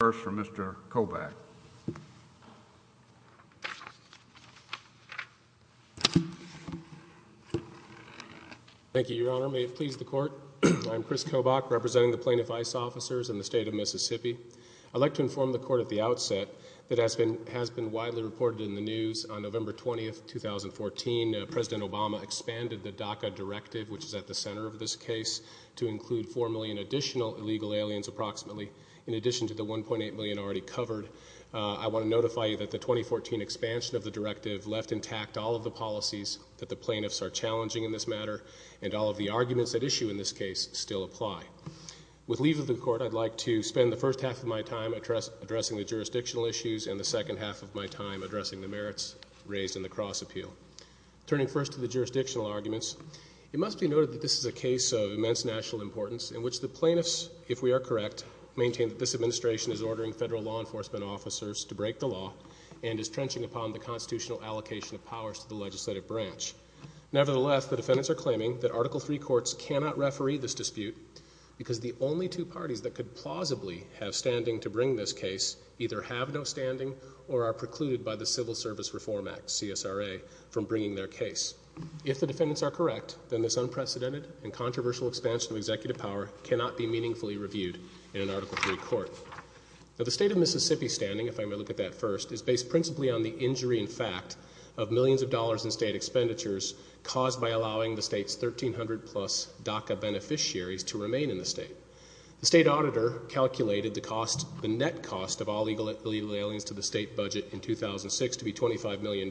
First, from Mr. Kobach. Thank you, Your Honor. May it please the Court, I am Chris Kobach, representing the Plaintiff I.C.E. officers in the state of Mississippi. I'd like to inform the Court at the outset that as has been widely reported in the news, on November 20th, 2014, President Obama expanded the DACA directive, which is at the center of this case, to include 4 million additional illegal aliens, approximately, in addition to the 1.8 million already covered. I want to notify you that the 2014 expansion of the directive left intact all of the policies that the plaintiffs are challenging in this matter, and all of the arguments at issue in this case still apply. With leave of the Court, I'd like to spend the first half of my time addressing the jurisdictional issues and the second half of my time addressing the merits raised in the cross-appeal. Turning first to the jurisdictional arguments, it must be noted that this is a case of immense national importance in which the plaintiffs, if we are correct, maintain that this administration is ordering federal law enforcement officers to break the law and is trenching upon the constitutional allocation of powers to the legislative branch. Nevertheless, the defendants are claiming that Article III courts cannot referee this dispute because the only two parties that could plausibly have standing to bring this case either have no standing or are precluded by the Civil Service Reform Act, CSRA, from bringing their case. If the cannot be meaningfully reviewed in an Article III court. The state of Mississippi's standing, if I may look at that first, is based principally on the injury in fact of millions of dollars in state expenditures caused by allowing the state's 1,300-plus DACA beneficiaries to remain in the state. The state auditor calculated the cost, the net cost, of all illegal aliens to the state budget in 2006 to be $25 million,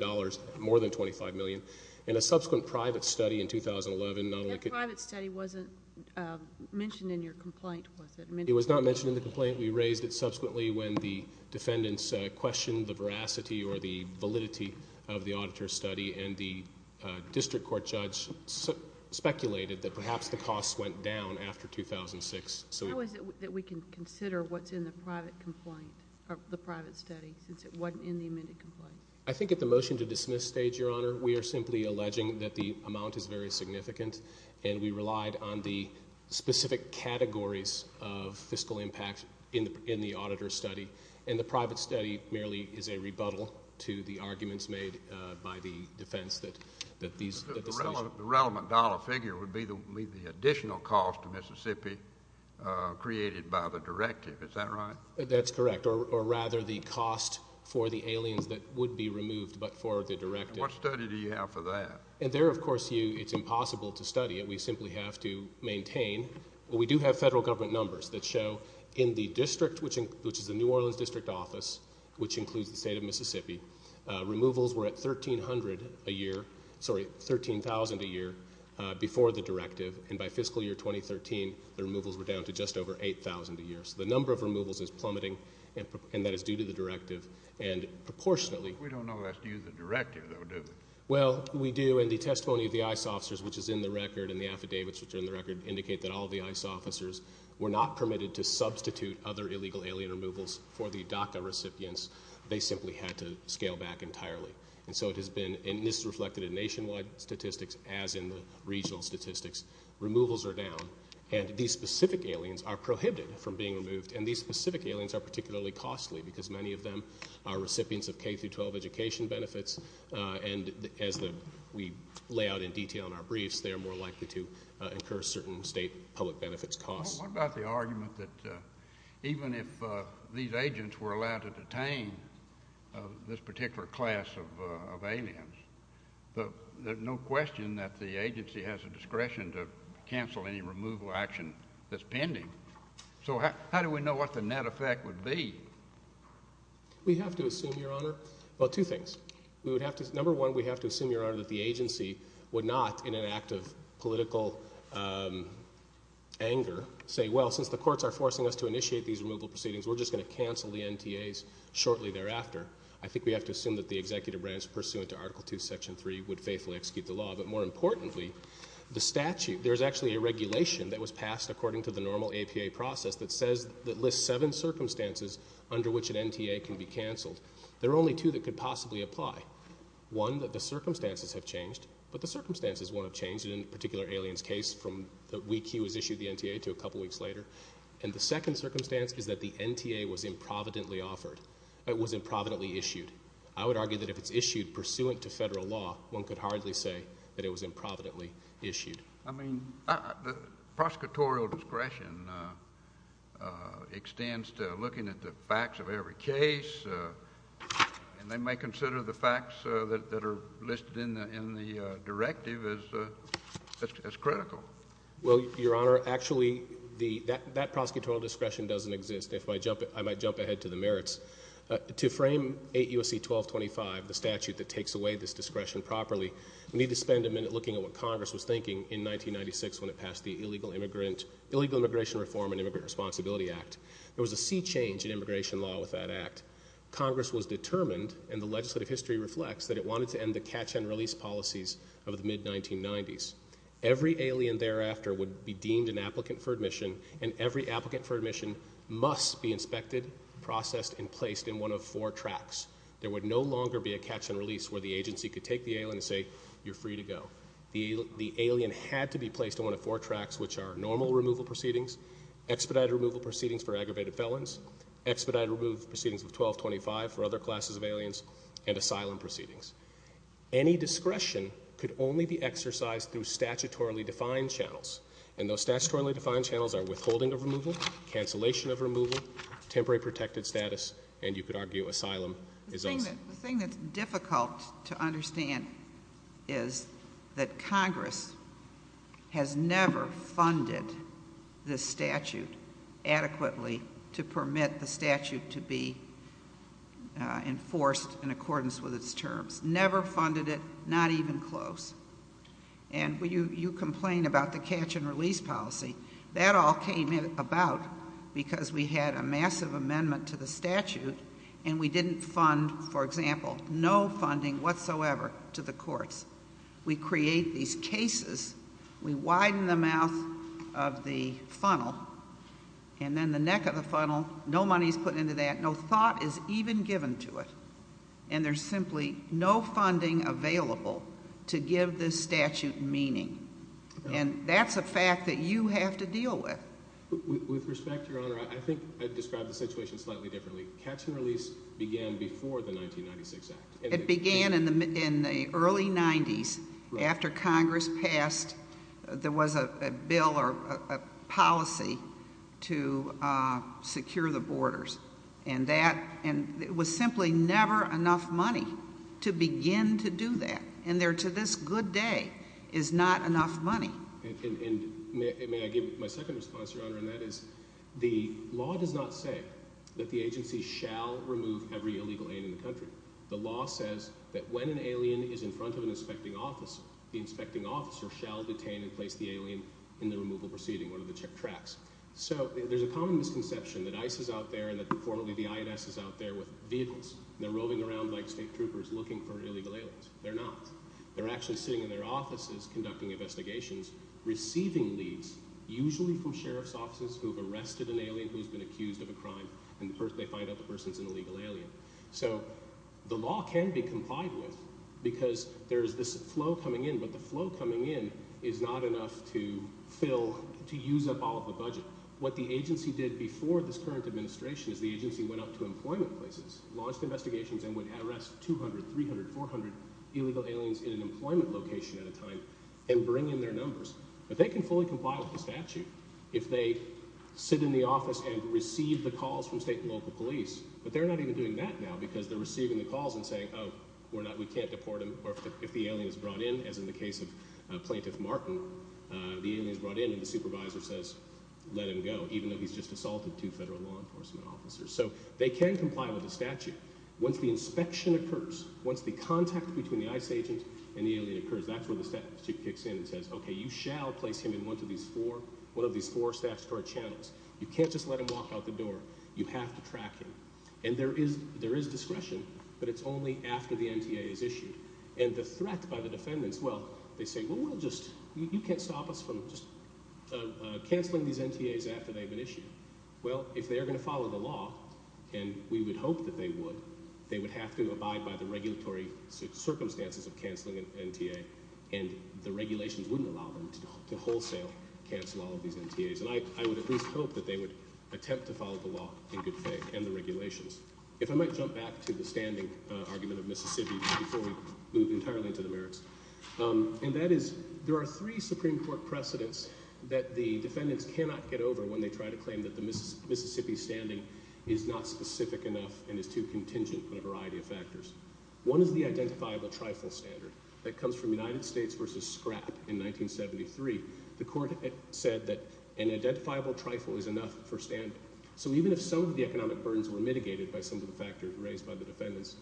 more than $25 million. In a subsequent private study in 2011, not only could the state auditor calculate the cost, the net cost, of all illegal aliens to the state budget in 2006 to be $25 million, more than $25 million. The private study wasn't mentioned in your complaint, was it? It was not mentioned in the complaint. We raised it subsequently when the defendants questioned the veracity or the validity of the auditor's study, and the district court judge speculated that perhaps the cost went down after 2006. How is it that we can consider what's in the private complaint, or the private study, since it wasn't in the amended complaint? I think at the motion-to-dismiss stage, Your Honor, we relied on the specific categories of fiscal impact in the auditor's study, and the private study merely is a rebuttal to the arguments made by the defense that these The relevant dollar figure would be the additional cost to Mississippi created by the directive. Is that right? That's correct, or rather the cost for the aliens that would be removed, but for the directive. What study do you have for that? And there, of course, it's impossible to study it. We simply have to maintain. We do have federal government numbers that show in the district, which is the New Orleans district office, which includes the state of Mississippi, removals were at $13,000 a year before the directive, and by fiscal year 2013, the removals were down to just over $8,000 a year. So the number of removals is plummeting, and that is due to the directive, and proportionately We don't know if that's due to the directive, though, do we? Well, we do, and the testimony of the ICE officers, which is in the record, and the affidavits which are in the record indicate that all the ICE officers were not permitted to substitute other illegal alien removals for the DACA recipients. They simply had to scale back entirely, and so it has been, and this is reflected in nationwide statistics as in the regional statistics, removals are down, and these specific aliens are prohibited from being removed, and these specific aliens are particularly costly because many of them are recipients of K-12 education benefits, and as we lay out in detail in our briefs, they are more likely to incur certain state public benefits costs. What about the argument that even if these agents were allowed to detain this particular class of aliens, there's no question that the agency has the discretion to cancel any removal action that's pending. So how do we know what the net effect would be? We have to assume, Your Honor, well, two things. We would have to, number one, we have to assume, Your Honor, that the agency would not, in an act of political anger, say, well, since the courts are forcing us to initiate these removal proceedings, we're just going to cancel the NTAs shortly thereafter. I think we have to assume that the executive branch pursuant to Article II, Section 3 would faithfully execute the law, but more importantly, the statute, there's actually a regulation that was passed according to the normal APA process that says, that lists seven circumstances under which an NTA can be canceled. There are only two that could possibly apply. One, that the circumstances have changed, but the circumstances won't have changed in a particular alien's case from the week he was issued the NTA to a couple weeks later. And the second circumstance is that the NTA was improvidently offered. It was improvidently issued. I would argue that if it's issued pursuant to federal law, one could hardly say that it was improvidently issued. I mean, the prosecutorial discretion extends to looking at the facts of every case, and they may consider the facts that are listed in the directive as critical. Well, Your Honor, actually, that prosecutorial discretion doesn't exist. If I jump ahead to the merits, to frame 8 U.S.C. 1225, the statute that takes away this discretion properly, we need to spend a minute looking at what Congress was thinking in 1996 when it passed the Illegal Immigration Reform and Immigrant Responsibility Act. There was a sea change in immigration law with that act. Congress was determined, and the legislative history reflects, that it wanted to end the catch-and-release policies of the mid-1990s. Every alien thereafter would be deemed an applicant for admission, and every applicant for admission must be inspected, processed, and placed in one of four tracks. There would no longer be a catch-and-release where the agency could take the alien and say, you're free to go. The alien had to be placed in one of four tracks, which are normal removal proceedings, expedited removal proceedings for aggravated felons, expedited removal proceedings of 1225 for other classes of aliens, and asylum proceedings. Any discretion could only be exercised through statutorily defined channels, and those statutorily defined channels are withholding of removal, cancellation of removal, temporary protected status, and you could argue asylum is also. The thing that's difficult to understand is that Congress has never funded this statute adequately to permit the statute to be enforced in accordance with its terms. Never funded it, not even close, and you complain about the catch-and-release policy. That all came about because we had a massive amendment to the statute, and we didn't fund, for example, no funding whatsoever to the courts. We create these cases, we widen the mouth of the funnel, and then the neck of the funnel, no money is put into that, no thought is even given to it, and there's simply no funding available to give this statute meaning, and that's a problem. With respect, Your Honor, I think I'd describe the situation slightly differently. Catch-and-release began before the 1996 Act. It began in the early 90s after Congress passed there was a bill or a policy to secure the borders, and it was simply never enough money to begin to do that, and there, to this good day, is not enough money. And may I give my second response, Your Honor, and that is the law does not say that the agency shall remove every illegal alien in the country. The law says that when an alien is in front of an inspecting officer, the inspecting officer shall detain and place the alien in the removal proceeding, one of the check tracks. So there's a common misconception that ICE is out there and that, informally, the INS is out there with vehicles, and they're roving around like state troopers looking for illegal aliens. They're not. They're actually sitting in their investigations, receiving leads, usually from sheriff's offices who have arrested an alien who's been accused of a crime, and they find out the person's an illegal alien. So the law can be complied with because there's this flow coming in, but the flow coming in is not enough to fill, to use up all of the budget. What the agency did before this current administration is the agency went out to employment places, launched investigations, and would But they can fully comply with the statute if they sit in the office and receive the calls from state and local police, but they're not even doing that now because they're receiving the calls and saying, oh, we can't deport him, or if the alien is brought in, as in the case of Plaintiff Martin, the alien is brought in and the supervisor says, let him go, even though he's just assaulted two federal law enforcement officers. So they can comply with the statute. Once the inspection occurs, once the contact between the ICE agent and the agency says, okay, you shall place him in one of these four, one of these four statutory channels. You can't just let him walk out the door. You have to track him. And there is, there is discretion, but it's only after the NTA is issued. And the threat by the defendants, well, they say, well, we'll just, you can't stop us from just canceling these NTAs after they've been issued. Well, if they are going to follow the law, and we would hope that they would, they would have to abide by the regulatory circumstances of canceling an NTA, and the regulations wouldn't allow them to wholesale cancel all of these NTAs. And I would at least hope that they would attempt to follow the law in good faith and the regulations. If I might jump back to the standing argument of Mississippi before we move entirely into the merits. And that is, there are three Supreme Court precedents that the defendants cannot get over when they try to claim that the Mississippi standing is not specific enough and is too contingent on a variety of factors. One is the identifiable trifle standard that comes from United States versus scrap in 1973. The court said that an identifiable trifle is enough for standing. So even if some of the economic burdens were mitigated by some of the factors raised by the defendants,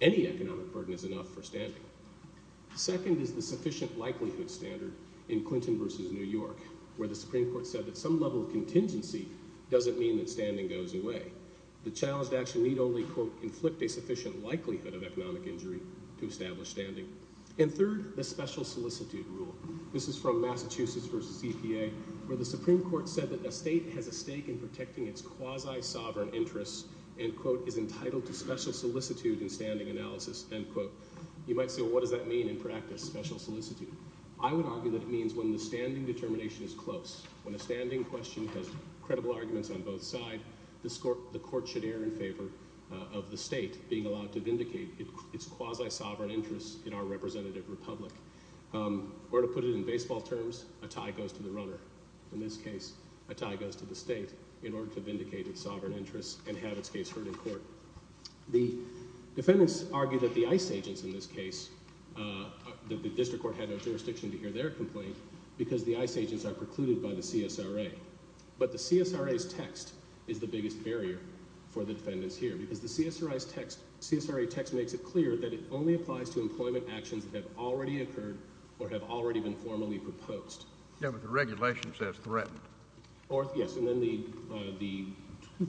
any economic burden is enough for standing. Second is the sufficient likelihood standard in Clinton versus New York, where the Supreme Court said that some level of contingency doesn't mean that standing goes away. The challenged action need only quote, inflict a sufficient likelihood of economic injury to establish standing. And third, the special solicitude rule. This is from Massachusetts versus EPA, where the Supreme Court said that the state has a stake in protecting its quasi sovereign interests and quote, is entitled to special solicitude and standing analysis, end quote. You might say, well, what does that mean in practice, special solicitude? I would argue that it means when the standing determination is close, when a standing question has credible arguments on both sides, the court should err in favor of the state being quasi sovereign interests in our representative republic. Or to put it in baseball terms, a tie goes to the runner. In this case, a tie goes to the state in order to vindicate its sovereign interests and have its case heard in court. The defendants argued that the ICE agents in this case, the district court had no jurisdiction to hear their complaint because the ICE agents are precluded by the CSRA. But the CSRA's text is the biggest barrier for the defendants here, because the CSRA text makes it clear that it only applies to employment actions that have already occurred or have already been formally proposed. Yeah, but the regulation says threatened. Or yes, and then the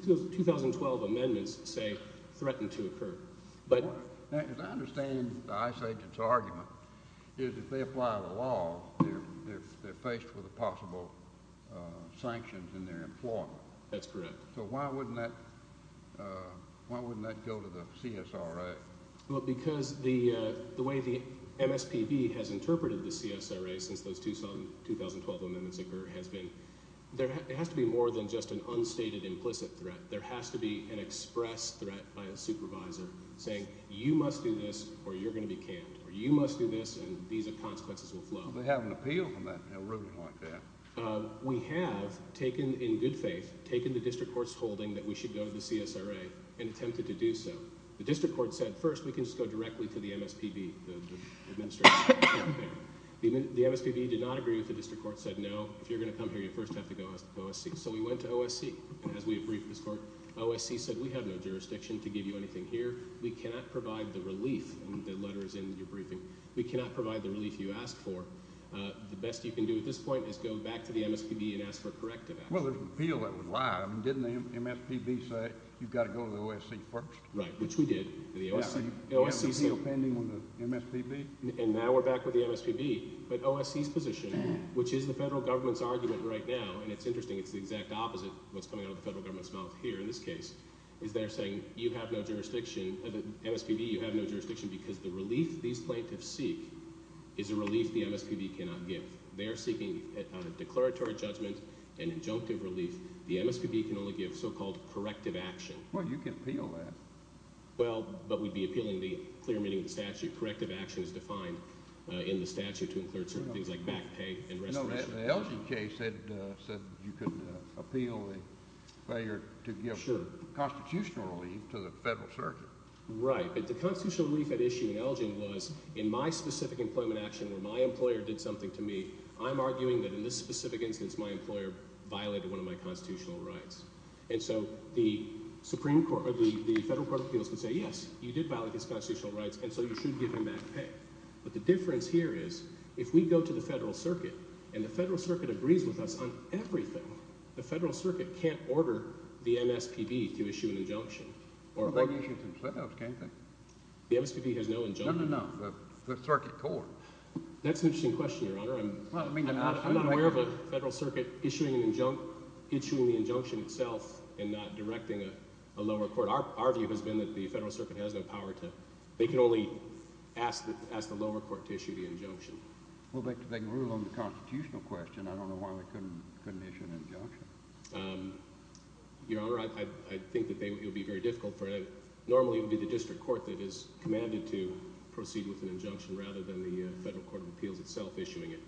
2012 amendments say threatened to occur. But as I understand the ICE agents' argument is if they apply the law, they're faced with the possible sanctions in their employment. That's correct. So why wouldn't that go to the CSRA? Well, because the way the MSPB has interpreted the CSRA since those 2012 amendments occurred has been there has to be more than just an unstated implicit threat. There has to be an express threat by a supervisor saying you must do this or you're going to be canned, or you must do this and these consequences will flow. They have an appeal from that ruling like that. We have taken, in good faith, taken the district court's holding that we should go to the CSRA and attempted to do so. The district court said, first, we can just go directly to the MSPB. The MSPB did not agree with the district court said, no, if you're going to come here, you first have to go to OSC. So we went to OSC. And as we have briefed this court, OSC said, we have no jurisdiction to give you anything here. We cannot provide the relief. The letter is in your briefing. We cannot provide the relief you asked for. The best you can do at this point is go back to the MSPB and ask for corrective action. Well, there's an appeal that was live, and didn't the MSPB say, you've got to go to the OSC first? Right, which we did. Yeah, so you have an appeal pending on the MSPB? And now we're back with the MSPB. But OSC's position, which is the federal government's argument right now, and it's interesting, it's the exact opposite of what's coming out of the federal government's mouth here in this case, is they're saying you have no jurisdiction, the MSPB, you have no jurisdiction because the relief these plaintiffs seek is a relief the MSPB cannot give. They're seeking a declaratory judgment, an injunctive relief. The MSPB can only give so-called corrective action. Well, you can appeal that. Well, but we'd be appealing the clear meaning of the statute. Corrective action is defined in the statute to include certain things like back pay and restoration. The Elgin case said you could appeal the failure to give constitutional relief to the federal circuit. Right, but the constitutional relief at issue in Elgin was, in my specific employment action, where my employer did something to me, I'm arguing that in this specific instance, my employer violated one of my constitutional rights. And so the federal court of appeals could say, yes, you did violate his constitutional rights, and so you should give him back pay. But the difference here is, if we go to the federal circuit, and the federal circuit agrees with us on everything, the federal circuit can't order the MSPB to issue an injunction. Or issue some split-ups, can't they? The MSPB has no injunction. No, no, no, the circuit court. That's an interesting question, Your Honor. I'm not aware of a federal circuit issuing the injunction itself and not directing a lower court. Our view has been that the federal circuit has no power to, they can only ask the lower court to issue the injunction. Well, they can rule on the constitutional question. I don't know why they couldn't issue an injunction. Your Honor, I think that it would be very difficult for it. Normally, it would be the district court that is commanded to proceed with an injunction rather than the federal court of appeals itself issuing it.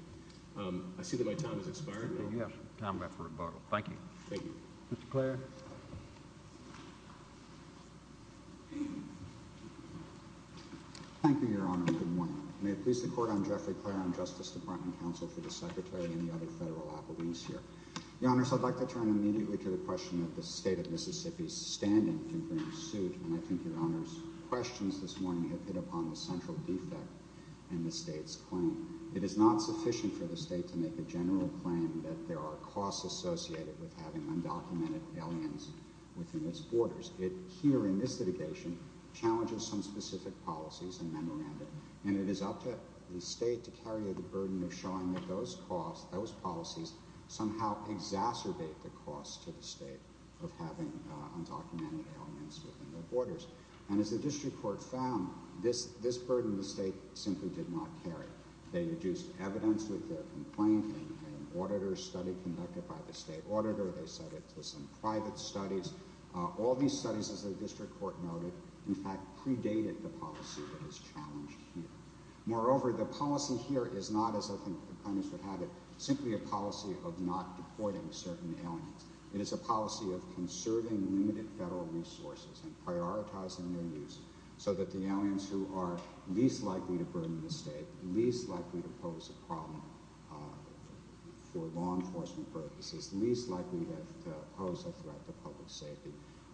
I see that my time has expired. You have time left for rebuttal. Thank you. Thank you. Mr. Clare. Thank you, Your Honor. Good morning. May it please the Court, I'm Jeffrey Clare. I'm Justice Department Counsel for the Secretary and the other federal appellees here. Your Honors, I'd like to turn immediately to the question that the State of Mississippi's standing can bring suit, and I think Your Honor's questions this morning have hit upon the central defect in the State's claim. It is not sufficient for the State to make a general claim that there are costs associated with having undocumented aliens within its borders. It, here in this litigation, challenges some specific policies and memoranda, and it is up to the State to carry the burden of showing that those costs, those policies, somehow exacerbate the cost to the State of having undocumented aliens within their borders. And as the district court found, this burden the State simply did not carry. They deduced evidence with their complaint in an auditor study conducted by the State auditor. They set it to some private studies. All these studies, as the district court noted, in fact, predated the policy that is challenged here. Moreover, the policy here is not, as you know, a policy of not deporting certain aliens. It is a policy of conserving limited federal resources and prioritizing their use so that the aliens who are least likely to burden the State, least likely to pose a problem for law enforcement purposes, least likely to pose a threat to public safety,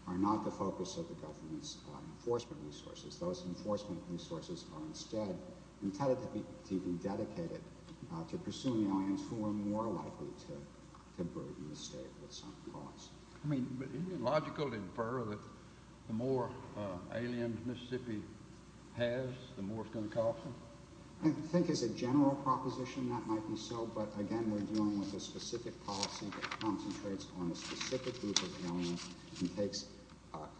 are not the focus of the government's enforcement resources. Those enforcement resources are instead intended to be dedicated to pursuing aliens who are more likely to burden the State with some costs. I mean, isn't it logical to infer that the more aliens Mississippi has, the more it's going to cost them? I think as a general proposition that might be so, but again, we're dealing with a specific policy that concentrates on a specific group of aliens and takes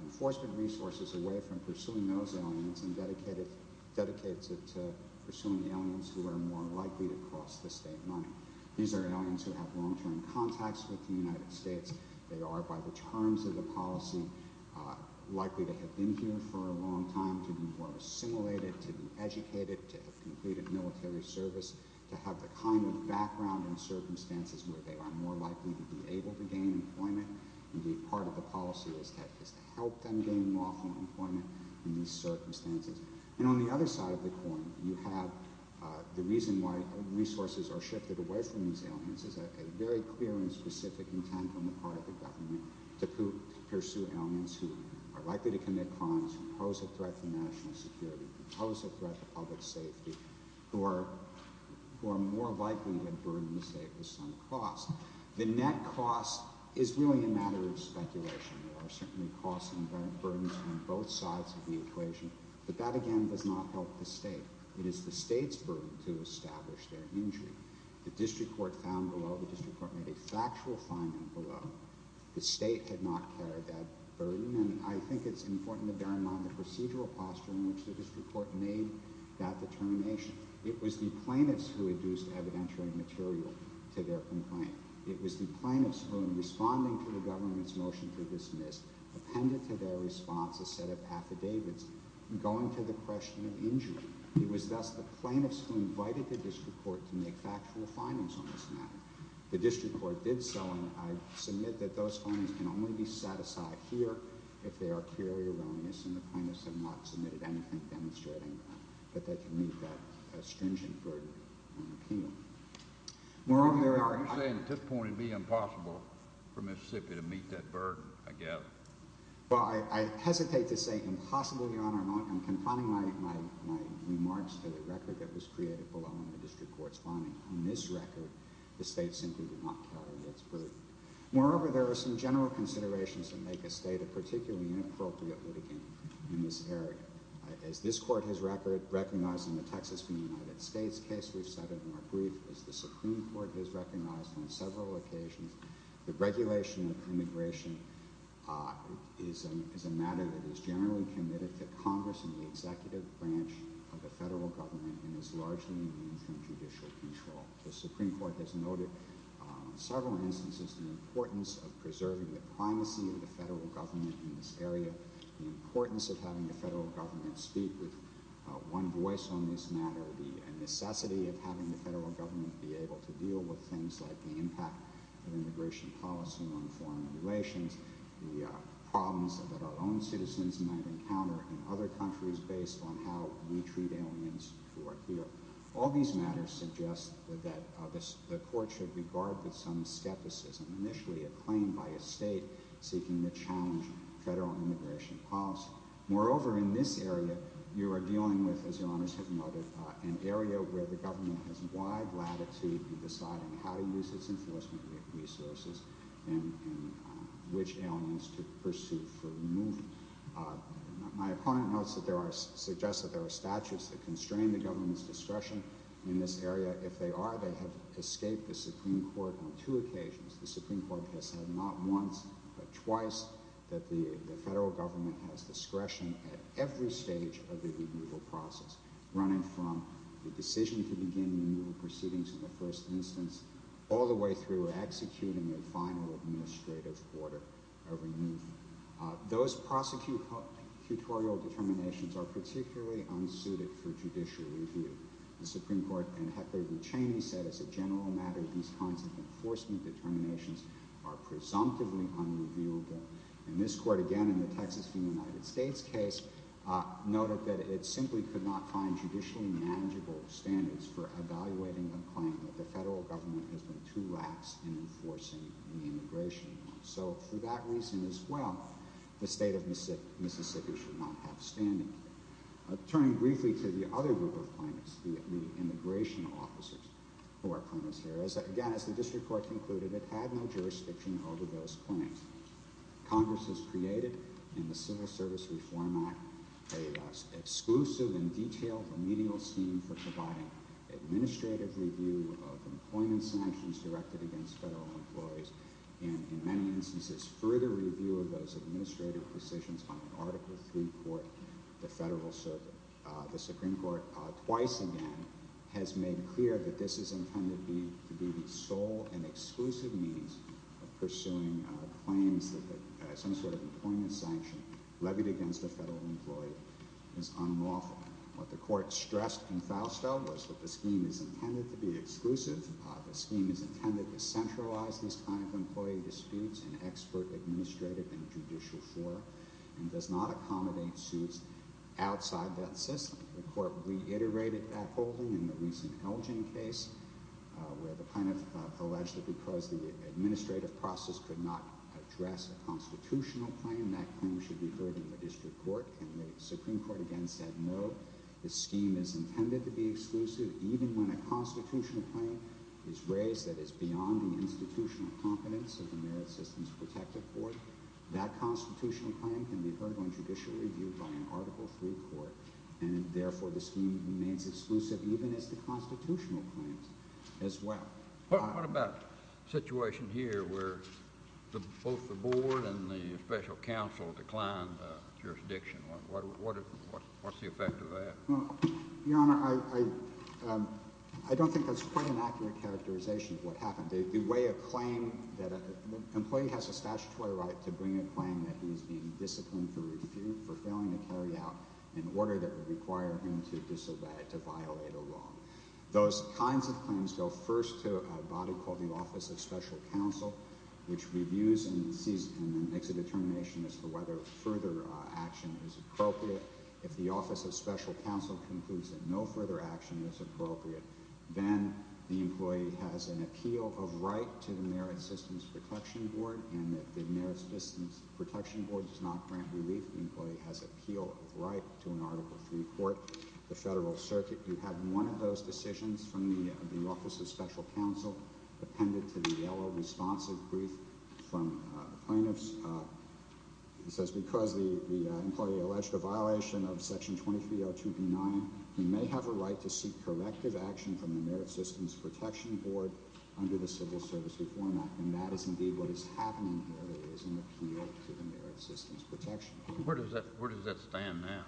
enforcement resources away from pursuing those aliens and dedicates it to pursuing the aliens who are more likely to cost the State money. These are aliens who have long-term contacts with the United States. They are, by the terms of the policy, likely to have been here for a long time, to be more assimilated, to be educated, to have completed military service, to have the kind of background and circumstances where they are more likely to be able to gain employment. Indeed, part of the policy is to help them gain lawful employment in these circumstances. And on the other side of the coin, you have the reason why resources are shifted away from these aliens is a very clear and specific intent on the part of the government to pursue aliens who are likely to commit crimes, who pose a threat to national security, who pose a threat to public safety, who are more likely to burden the State with some cost. The net cost is really a matter of speculation. There are certainly costs and burdens on both sides of the equation, but that again does not help the State. It is the State's burden to establish their injury. The district court found below, the district court made a factual finding below, the State had not carried that burden, and I think it's important to bear in mind the procedural posture in which the district court made that determination. It was the plaintiffs who induced evidentiary material to their complaint. It was the plaintiffs who, in responding to the government's motion to dismiss, appended to their response a set of affidavits going to the question of injury. It was thus the plaintiffs who invited the district court to make factual findings on this matter. The district court did so, and I submit that those findings can only be set aside here if they are clearly erroneous, and the plaintiffs have not submitted anything demonstrating that they can meet that stringent burden on the appeal. Moreover, I'm saying at this point it would be impossible for Mississippi to meet that burden, I guess. Well, I hesitate to say impossible, Your Honor. I'm confining my remarks to the record that was created below in the district court's finding. On this record, the State simply did not carry its burden. Moreover, there are some general considerations that make a State a particularly inappropriate litigant in this area. As this Court has recognized in the Texas v. United States case we've cited in our brief, as the immigration is a matter that is generally committed to Congress and the executive branch of the federal government and is largely in the interest of judicial control. The Supreme Court has noted in several instances the importance of preserving the primacy of the federal government in this area, the importance of having the federal government speak with one voice on this matter, the necessity of having the federal government be able to deal with things like the impact of immigration policy on foreign relations, the problems that our own citizens might encounter in other countries based on how we treat aliens who are here. All these matters suggest that the Court should regard with some skepticism, initially a claim by a State seeking to challenge federal immigration policy. Moreover, in this area, you are dealing with, as Your Honors have noted, an area where the government has wide latitude in deciding how to use its enforcement resources and which aliens to pursue for removal. My opponent notes that there are statutes that constrain the government's discretion in this area. If they are, they have escaped the Supreme Court on two occasions. The Supreme Court has said not once but twice that the federal government has discretion at every stage of the removal process, running from the decision to begin the removal proceedings in the first instance all the way through executing a final administrative order of removal. Those prosecutorial determinations are particularly unsuited for judicial review. The Supreme Court, in Heckler v. Cheney, said, as a general matter, these kinds of enforcement determinations are presumptively unreviewable. And this Court, again in the Texas v. United States case, noted that it simply could not find judicially manageable standards for evaluating a claim that the federal government has been too lax in enforcing the immigration law. So for that reason as well, the state of Mississippi should not have standing. Turning briefly to the other group of plaintiffs, the immigration officers who are plaintiffs here, again, as the District Court concluded, it had no jurisdiction over those claims. Congress has created, in the Civil Service Reform Act, a exclusive and detailed remedial scheme for providing administrative review of employment sanctions directed against federal employees. And in many instances, further review of those administrative positions on an Article III court, the federal Supreme Court twice again has made clear that this is intended to be the sole and exclusive means of pursuing claims that some sort of employment sanction levied against a federal employee is unlawful. What the Court stressed in Fausto was that the scheme is intended to be exclusive, the scheme is intended to centralize these kind of employee disputes in expert, administrative, and judicial form, and does not accommodate suits outside that system. The Court reiterated that holding in the recent Elgin case, where the plaintiff alleged that because the administrative process could not address a constitutional claim, that claim should be heard in the District Court. And the Supreme Court again said, no, the scheme is intended to be exclusive, even when a constitutional claim is raised that is beyond the institutional competence of the Merit Systems Protective Court. That constitutional claim can be heard on judicial review by an Article III court. And therefore, the scheme remains exclusive, even as the constitutional claims as well. What about a situation here where both the Board and the Special Counsel declined jurisdiction? What's the effect of that? Well, Your Honor, I don't think that's quite an accurate characterization of what happened. The employee has a statutory right to bring a claim that he's being disciplined for failing to carry out an order that would require him to violate a law. Those kinds of claims go first to a body called the Office of Special Counsel, which reviews and makes a determination as to whether further action is appropriate. If the Office of Special Counsel concludes that no further action is appropriate, then the employee has an appeal of right to the Merit Systems Protection Board. And if the Merit Systems Protection Board does not grant relief, the employee has appeal of right to an Article III court. The Federal Circuit do have one of those decisions from the Office of Special Counsel appended to the yellow responsive brief from the plaintiffs. It says, because the employee alleged a violation of Section 2302B9, he may have a right to seek corrective action from the Merit Systems Protection Board under the Civil Service Reform Act. And that is indeed what is happening here. There is an appeal to the Merit Systems Protection Board. Where does that stand now?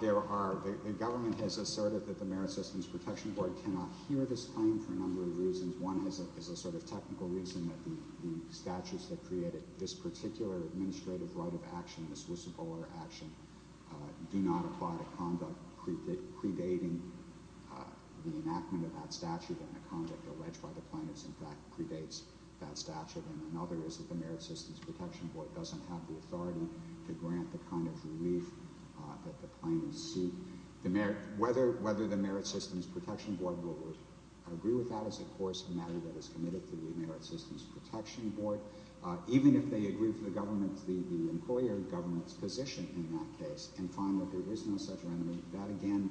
There are. The government has asserted that the Merit Systems Protection Board cannot hear this for a number of reasons. One is a sort of technical reason that the statutes that created this particular administrative right of action, this whistleblower action, do not apply to conduct predating the enactment of that statute and the conduct alleged by the plaintiffs, in fact, predates that statute. And another is that the Merit Systems Protection Board doesn't have the authority to grant the kind of relief that the plaintiffs seek. Whether the Merit Systems Protection Board will agree with that is, of course, a matter that is committed to the Merit Systems Protection Board. Even if they agree with the employer government's position in that case and find that there is no such remedy, that again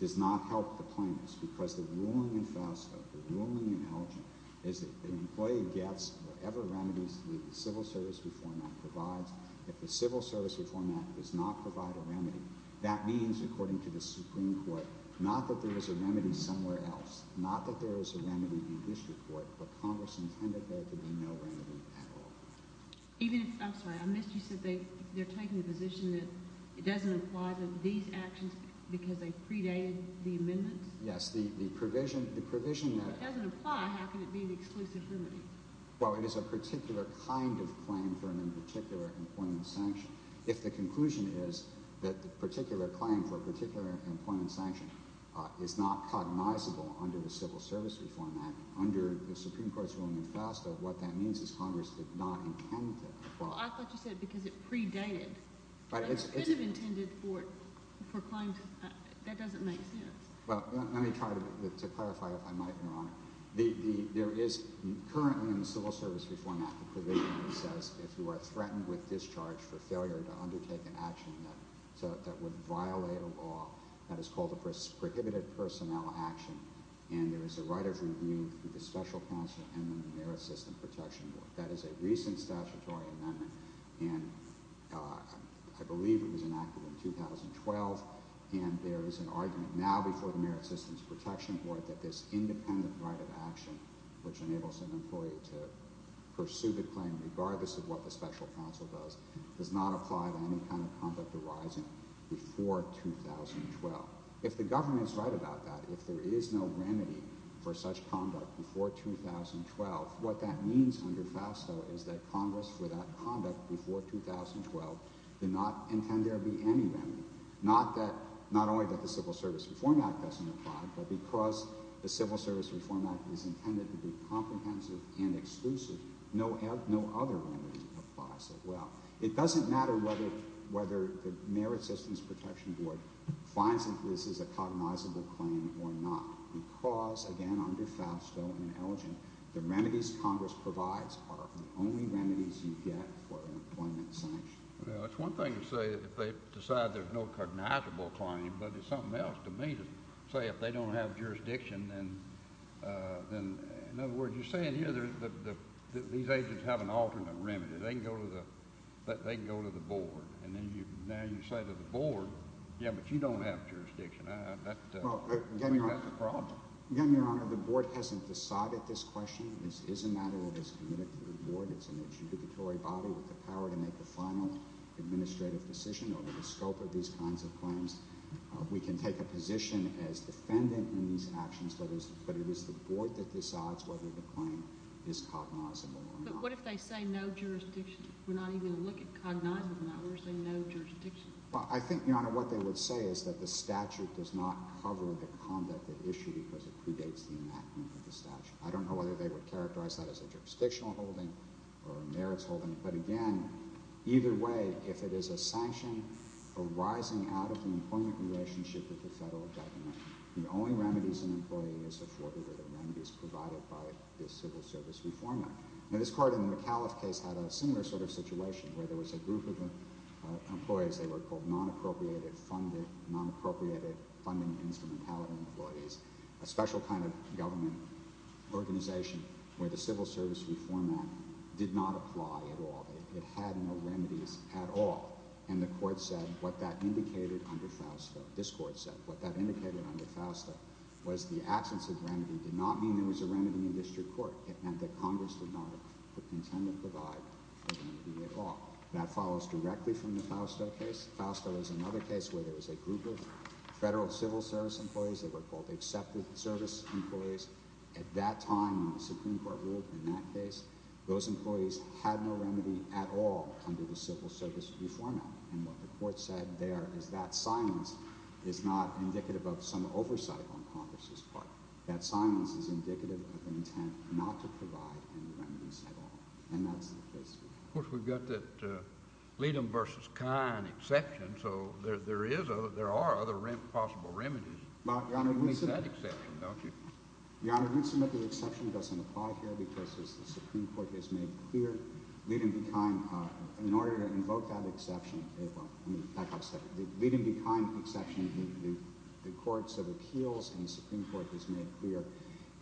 does not help the plaintiffs. Because the ruling in FASFA, the ruling in Elgin, is that the employee gets whatever remedies the Civil Service Reform Act provides. If the Civil Service Reform Act does not provide a remedy, that means, according to the not that there is a remedy in this report, but Congress intended there to be no remedy at all. Even if, I'm sorry, I missed you, you said they're taking the position that it doesn't apply to these actions because they predated the amendments? Yes, the provision that... If it doesn't apply, how can it be an exclusive remedy? Well, it is a particular kind of claim for an in particular employment sanction. If the conclusion is that the particular claim for a particular employment sanction is not cognizable under the Civil Service Reform Act, under the Supreme Court's ruling in FASFA, what that means is Congress did not intend to. Well, I thought you said because it predated. But it's... It should have intended for claims... That doesn't make sense. Well, let me try to clarify, if I might, Your Honor. There is currently in the Civil Service Reform Act the provision that says, if you are threatened with discharge for failure to sanction, that would violate a law that is called a prohibited personnel action, and there is a right of review through the Special Counsel and the Merit Systems Protection Board. That is a recent statutory amendment, and I believe it was enacted in 2012, and there is an argument now before the Merit Systems Protection Board that this independent right of action, which enables an employee to pursue the claim regardless of what the Special Counsel does, does not apply to any kind of conduct arising before 2012. If the government is right about that, if there is no remedy for such conduct before 2012, what that means under FASFA is that Congress, for that conduct before 2012, did not intend there be any remedy. Not that... Not only that the Civil Service Reform Act doesn't apply, but because the Civil Service Reform Act is intended to be whether the Merit Systems Protection Board finds that this is a cognizable claim or not. Because, again, under FASFA and ELEGENT, the remedies Congress provides are the only remedies you get for an employment sanction. Well, it's one thing to say that they decide there's no cognizable claim, but it's something else to me to say, if they don't have jurisdiction, then... In other words, you're saying here that these agents have an alternate remedy. They can go to the... And then you... Now you say to the Board, yeah, but you don't have jurisdiction. That's a problem. Again, Your Honor, the Board hasn't decided this question. This is a matter of it's committed to the Board. It's an adjudicatory body with the power to make the final administrative decision over the scope of these kinds of claims. We can take a position as defendant in these actions, but it is the Board that decides whether the claim is cognizable or not. But what if they say no jurisdiction? We're not even looking at cognizant of that. We're saying no jurisdiction. Well, I think, Your Honor, what they would say is that the statute does not cover the conduct at issue because it predates the enactment of the statute. I don't know whether they would characterize that as a jurisdictional holding or a merits holding. But again, either way, if it is a sanction arising out of the employment relationship with the federal government, the only remedies an employee is afforded are the remedies provided by the Civil Service Reform Act. Now, this court in the McAuliffe case had a similar sort of situation where there was a group of employees. They were called non-appropriated funding instrumentality employees, a special kind of government organization where the Civil Service Reform Act did not apply at all. It had no remedies at all. And the court said what that indicated under FAUSTA, this court said, what that indicated under FAUSTA was the absence of remedy did not mean there was a remedy in order to intend to provide a remedy at all. That follows directly from the FAUSTA case. FAUSTA was another case where there was a group of federal civil service employees that were called accepted service employees. At that time, when the Supreme Court ruled in that case, those employees had no remedy at all under the Civil Service Reform Act. And what the court said there is that silence is not indicative of some oversight on Congress's part. That silence is indicative of the intent not to provide any remedies at all. And that's the case. JUSTICE KENNEDY Of course, we've got that Leedem v. Kine exception. So there are other possible remedies. JUSTICE BREYER. Your Honor, the exception doesn't apply here because, as the Supreme Court has made clear, Leedem v. Kine, in order to invoke that exception, the Leedem v. Kine exception, the courts of appeals and the Supreme Court has made clear,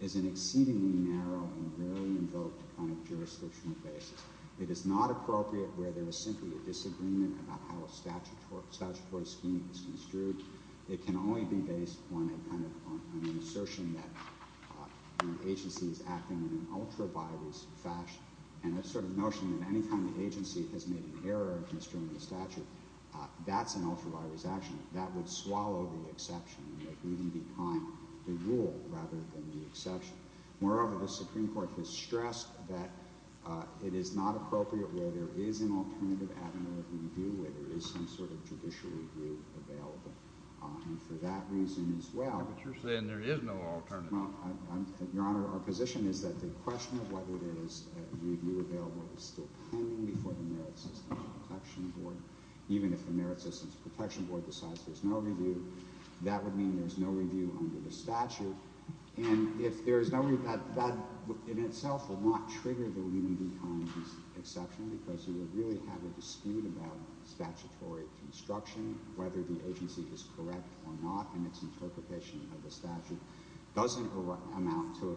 is an exceedingly narrow and rarely invoked kind of jurisdictional basis. It is not appropriate where there is simply a disagreement about how a statutory scheme is construed. It can only be based on an assertion that an agency is acting in an ultra-virus fashion and a sort of notion that any time the agency has made an error in construing a statute, that's an ultra-virus action. That would swallow the exception, the Leedem v. Kine, the rule rather than the exception. Moreover, the Supreme Court has stressed that it is not appropriate where there is an alternative avenue of review, where there is some sort of judicial review available. And for that reason as well— JUSTICE KENNEDY But you're saying there is no alternative. JUSTICE BREYER. Your Honor, our position is that the question of whether there is a review available is still pending before the Merit Systems Protection Board. Even if the Merit Systems Protection Board decides there is no review, that would mean there is no review under the statute. And if there is no review, that in itself will not trigger the Leedem v. Kine exception because you would really have a dispute about statutory construction, whether the agency is correct or not, and its interpretation of the statute doesn't amount to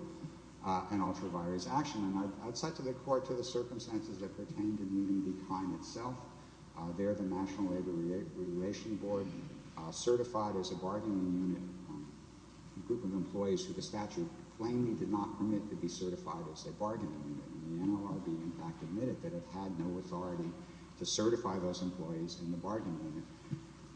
an ultra-virus action. And I would cite to the Court the circumstances that pertain to the Leedem v. Kine itself. There the National Labor Relations Board certified as a bargaining unit a group of employees who the statute plainly did not permit to be certified as a bargaining unit. And the NLRB, in fact, admitted that it had no authority to certify those employees in the bargaining unit.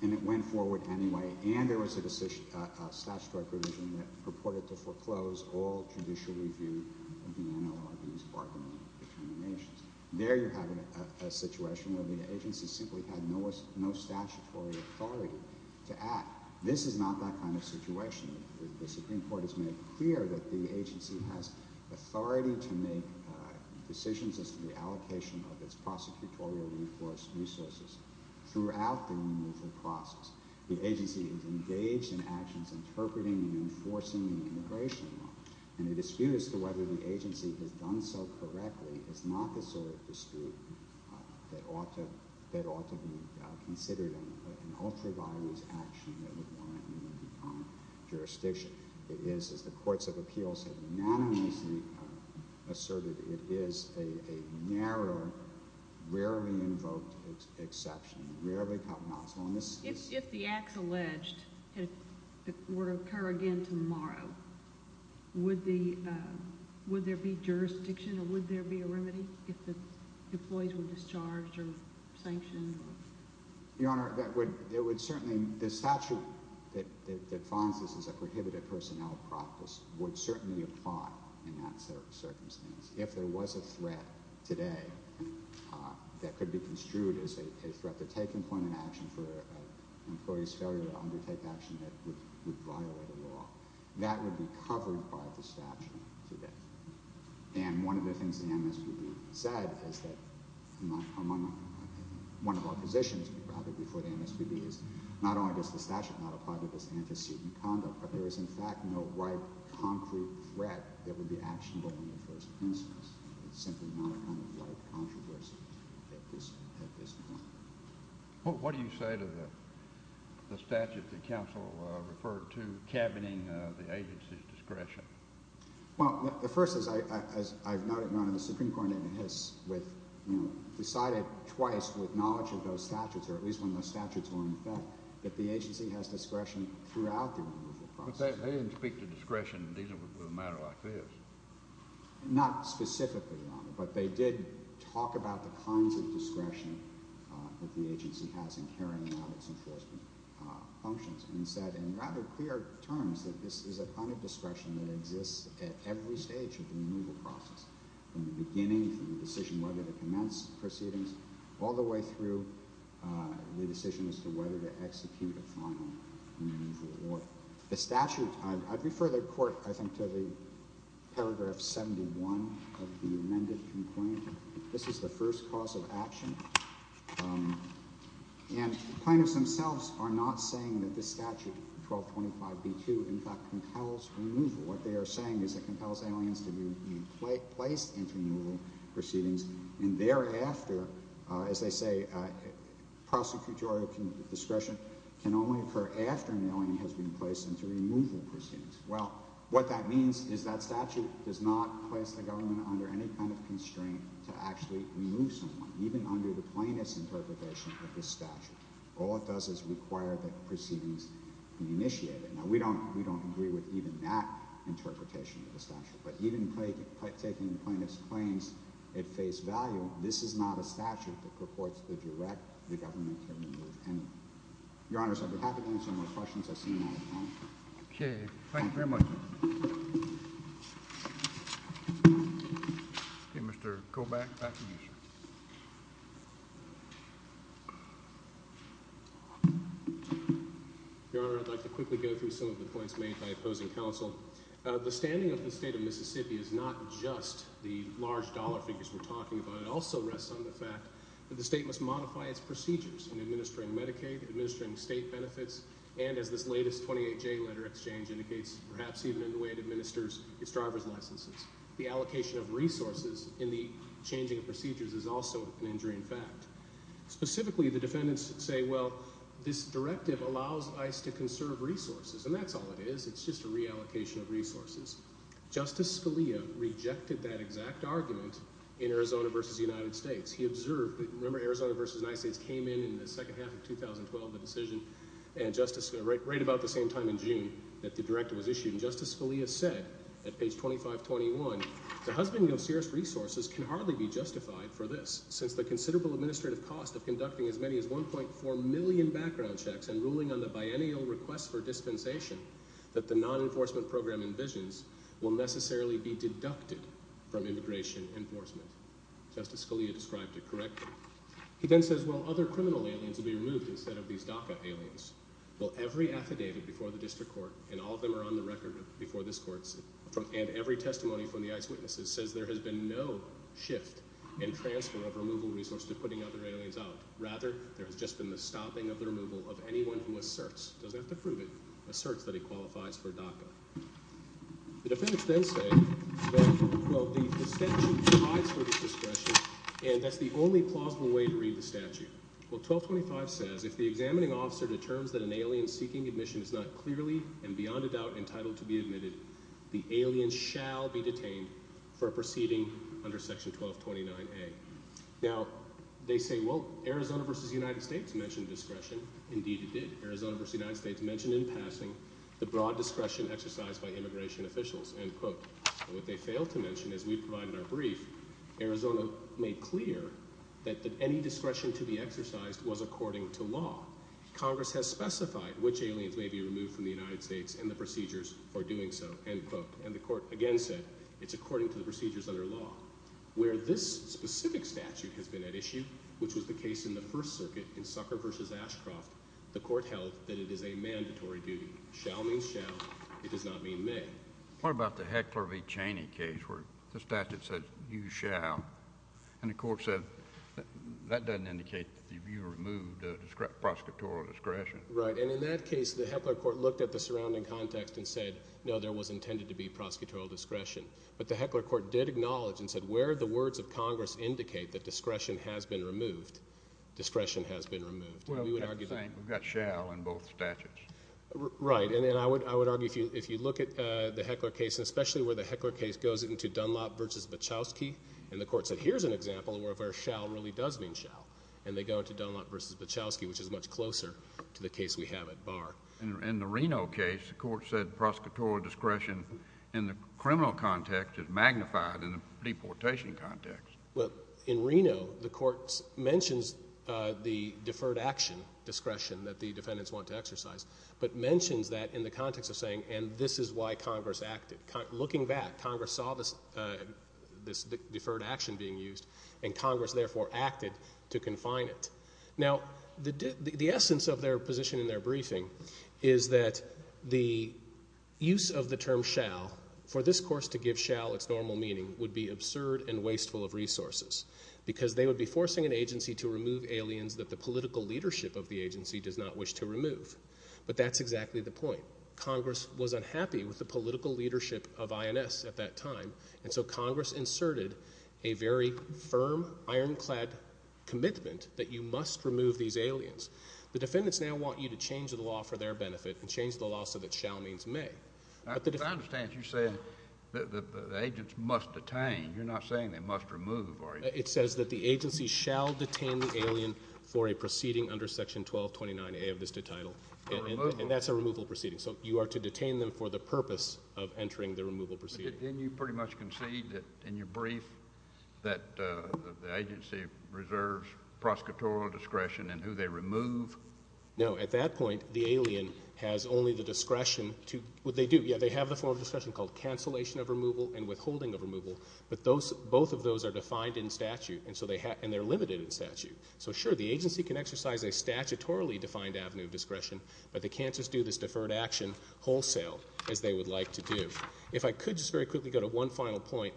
And it went forward anyway, and there was a statutory provision that purported to foreclose all judicial review of the NLRB's bargaining unit determinations. There you're having a situation where the agency simply had no statutory authority to act. This is not that kind of situation. The Supreme Court has made clear that the agency has authority to make decisions as to the allocation of its prosecutorial resources throughout the removal process. The agency is and the dispute as to whether the agency has done so correctly is not the sort of dispute that ought to be considered an ultra-virus action that would warrant a Leedem v. Kine jurisdiction. It is, as the Courts of Appeals have unanimously asserted, it is a narrow, rarely invoked exception. It rarely comes up. If the acts alleged would occur again tomorrow, would there be jurisdiction or would there be a remedy if the employees were discharged or sanctioned? Your Honor, it would certainly, the statute that finds this as a prohibited personnel practice would certainly apply in that circumstance. If there was a threat today that could be construed as a threat to take employment action for an employee's failure to undertake action that would violate a law, that would be covered by the statute today. And one of the things the MSPB said is that among one of our positions before the MSPB is not only does the statute not apply to this antecedent conduct, but there is in fact no right concrete threat that would be actionable in the first instance. It's simply not a kind of right controversy at this point. Well, what do you say to the statute that counsel referred to cabineting the agency's discretion? Well, the first is, as I've noted, Your Honor, the Supreme Court has decided twice with knowledge of those statutes, or at least when those statutes were in effect, that the agency has discretion throughout the removal process. But they didn't speak to discretion with a matter like this. Not specifically, Your Honor, but they did talk about the kinds of discretion that the agency has in carrying out its enforcement functions, and said in rather clear terms that this is a kind of discretion that exists at every stage of the removal process, from the beginning, from the decision whether to commence proceedings, all the way through the decision as to whether to amend it. This is the first cause of action. And plaintiffs themselves are not saying that this statute, 1225B2, in fact compels removal. What they are saying is that it compels aliens to be placed into removal proceedings, and thereafter, as they say, prosecutorial discretion can only occur after an alien has been placed into removal proceedings. Well, what that means is that statute does not place the government under any kind of constraint to actually remove someone, even under the plaintiff's interpretation of this statute. All it does is require that proceedings be initiated. Now, we don't agree with even that interpretation of the statute, but even taking the plaintiff's claims at face value, this is not a statute that purports to direct the government to remove anyone. Your Honors, I'd be happy to answer more questions at this time. Okay, thank you very much. Okay, Mr. Kobach, back to you, sir. Your Honor, I'd like to quickly go through some of the points made by opposing counsel. The standing of the state of Mississippi is not just the large dollar figures we're talking about. It also rests on the fact that the state must modify its procedures in administering Medicaid, administering state benefits, and as this latest 28-J letter exchange indicates, perhaps even in the way it administers its driver's licenses. The allocation of resources in the changing of procedures is also an injury in fact. Specifically, the defendants say, well, this directive allows ICE to conserve resources, and that's all it is. It's just a reallocation of resources. Justice Scalia rejected that exact argument in Arizona versus the United States. He filed the decision right about the same time in June that the directive was issued, and Justice Scalia said at page 2521, the husband of serious resources can hardly be justified for this since the considerable administrative cost of conducting as many as 1.4 million background checks and ruling on the biennial request for dispensation that the non-enforcement program envisions will necessarily be deducted from immigration enforcement. Justice Scalia described it as, well, every affidavit before the district court, and all of them are on the record before this court, and every testimony from the ICE witnesses says there has been no shift in transfer of removal resource to putting other aliens out. Rather, there has just been the stopping of the removal of anyone who asserts, doesn't have to prove it, asserts that he qualifies for DACA. The defendants then say that, well, the statute provides for this discretion, and that's the only plausible way to read the statute. Well, 1225 says, if the examining officer determines that an alien seeking admission is not clearly and beyond a doubt entitled to be admitted, the alien shall be detained for proceeding under section 1229A. Now, they say, well, Arizona versus the United States mentioned discretion. Indeed, it did. Arizona versus the United States mentioned in passing the broad discretion exercised by immigration officials, end quote. What they failed to mention as we provide in our brief, Arizona made clear that any discretion to be exercised was according to law. Congress has specified which aliens may be removed from the United States and the procedures for doing so, end quote, and the court again said it's according to the procedures under law. Where this specific statute has been at issue, which was the case in the First Circuit in Sucker versus Ashcroft, the court held that it is a mandatory duty. Shall means shall. It does not mean may. What about the Heckler v. Cheney case where the statute said you shall, and the court said that doesn't indicate that you removed the prosecutorial discretion. Right, and in that case, the Heckler court looked at the surrounding context and said, no, there was intended to be prosecutorial discretion, but the Heckler court did acknowledge and said where the words of Congress indicate that discretion has been removed, discretion has been removed. We've got shall in both statutes. Right, and I would argue if you look at the Heckler case, especially where the Heckler case goes into Dunlop v. Bachowski, and the court said here's an example where shall really does mean shall, and they go into Dunlop v. Bachowski, which is much closer to the case we have at bar. In the Reno case, the court said prosecutorial discretion in the criminal context is magnified in the deportation context. Well, in Reno, the court mentions the deferred action discretion that the defendants want to exercise, but mentions that in the context of saying, and this is why Congress acted. Looking back, Congress saw this deferred action being used, and Congress therefore acted to confine it. Now, the essence of their position in their briefing is that the use of the term shall for this course to give shall its normal meaning would be absurd and wasteful of resources because they would be forcing an agency to remove aliens that the agency does not wish to remove, but that's exactly the point. Congress was unhappy with the political leadership of INS at that time, and so Congress inserted a very firm ironclad commitment that you must remove these aliens. The defendants now want you to change the law for their benefit and change the law so that shall means may. I understand you're saying that the agents must detain. You're not saying they must remove. It says that the agency shall detain the alien for a proceeding under section 1229A of this title, and that's a removal proceeding, so you are to detain them for the purpose of entering the removal proceeding. Didn't you pretty much concede that in your brief that the agency reserves prosecutorial discretion in who they remove? No, at that point, the alien has only the discretion to what they do. Yeah, they have the form of discretion called cancellation of removal and withholding of removal, but both of those are defined in statute, and they're limited in statute. So sure, the agency can exercise a statutorily defined avenue of discretion, but they can't just do this deferred action wholesale as they would like to do. If I could just very quickly go to one final point.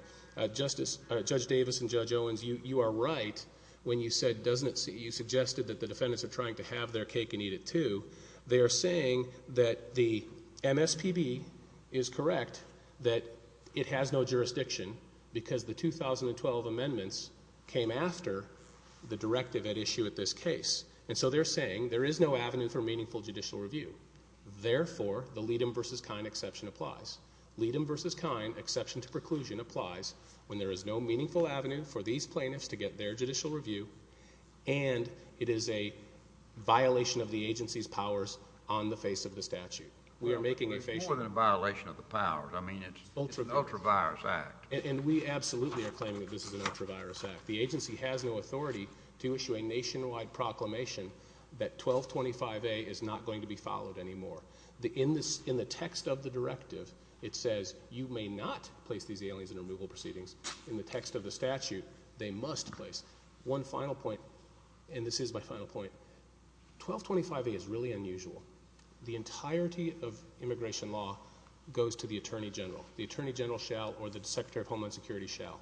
Judge Davis and Judge Owens, you are right when you said, you suggested that the defendants are trying to have their cake and eat it too. They are saying that the MSPB is correct, that it has no jurisdiction because the 2012 amendments came after the directive at issue at this case, and so they're saying there is no avenue for meaningful judicial review. Therefore, the Leedem v. Kine exception applies. Leedem v. Kine exception to preclusion applies when there is no meaningful avenue for these plaintiffs to get their judicial review, and it is a violation of the agency's powers on the face of the statute. We are making a violation of the powers. I mean, it's an ultra-virus act. And we absolutely are claiming that this is an ultra-virus act. The agency has no authority to issue a nationwide proclamation that 1225A is not going to be followed anymore. In the text of the directive, it says, you may not place these aliens in removal proceedings. In the text of the statute, they must place. One final point, and this is my final point, 1225A is really unusual. The entirety of immigration law goes to the Attorney General. The Attorney General shall, or the Secretary of Homeland Security shall.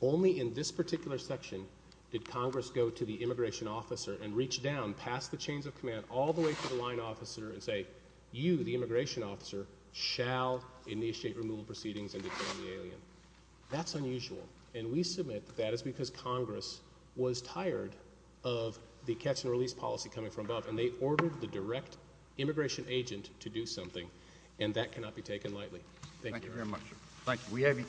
Only in this particular section did Congress go to the immigration officer and reach down past the chains of command all the way to the line officer and say, you, the immigration officer, shall initiate removal proceedings and detain the alien. That's unusual, and we submit that is because Congress was tired of the catch and release coming from above, and they ordered the direct immigration agent to do something, and that cannot be taken lightly. Thank you very much. Thank you. We have your case.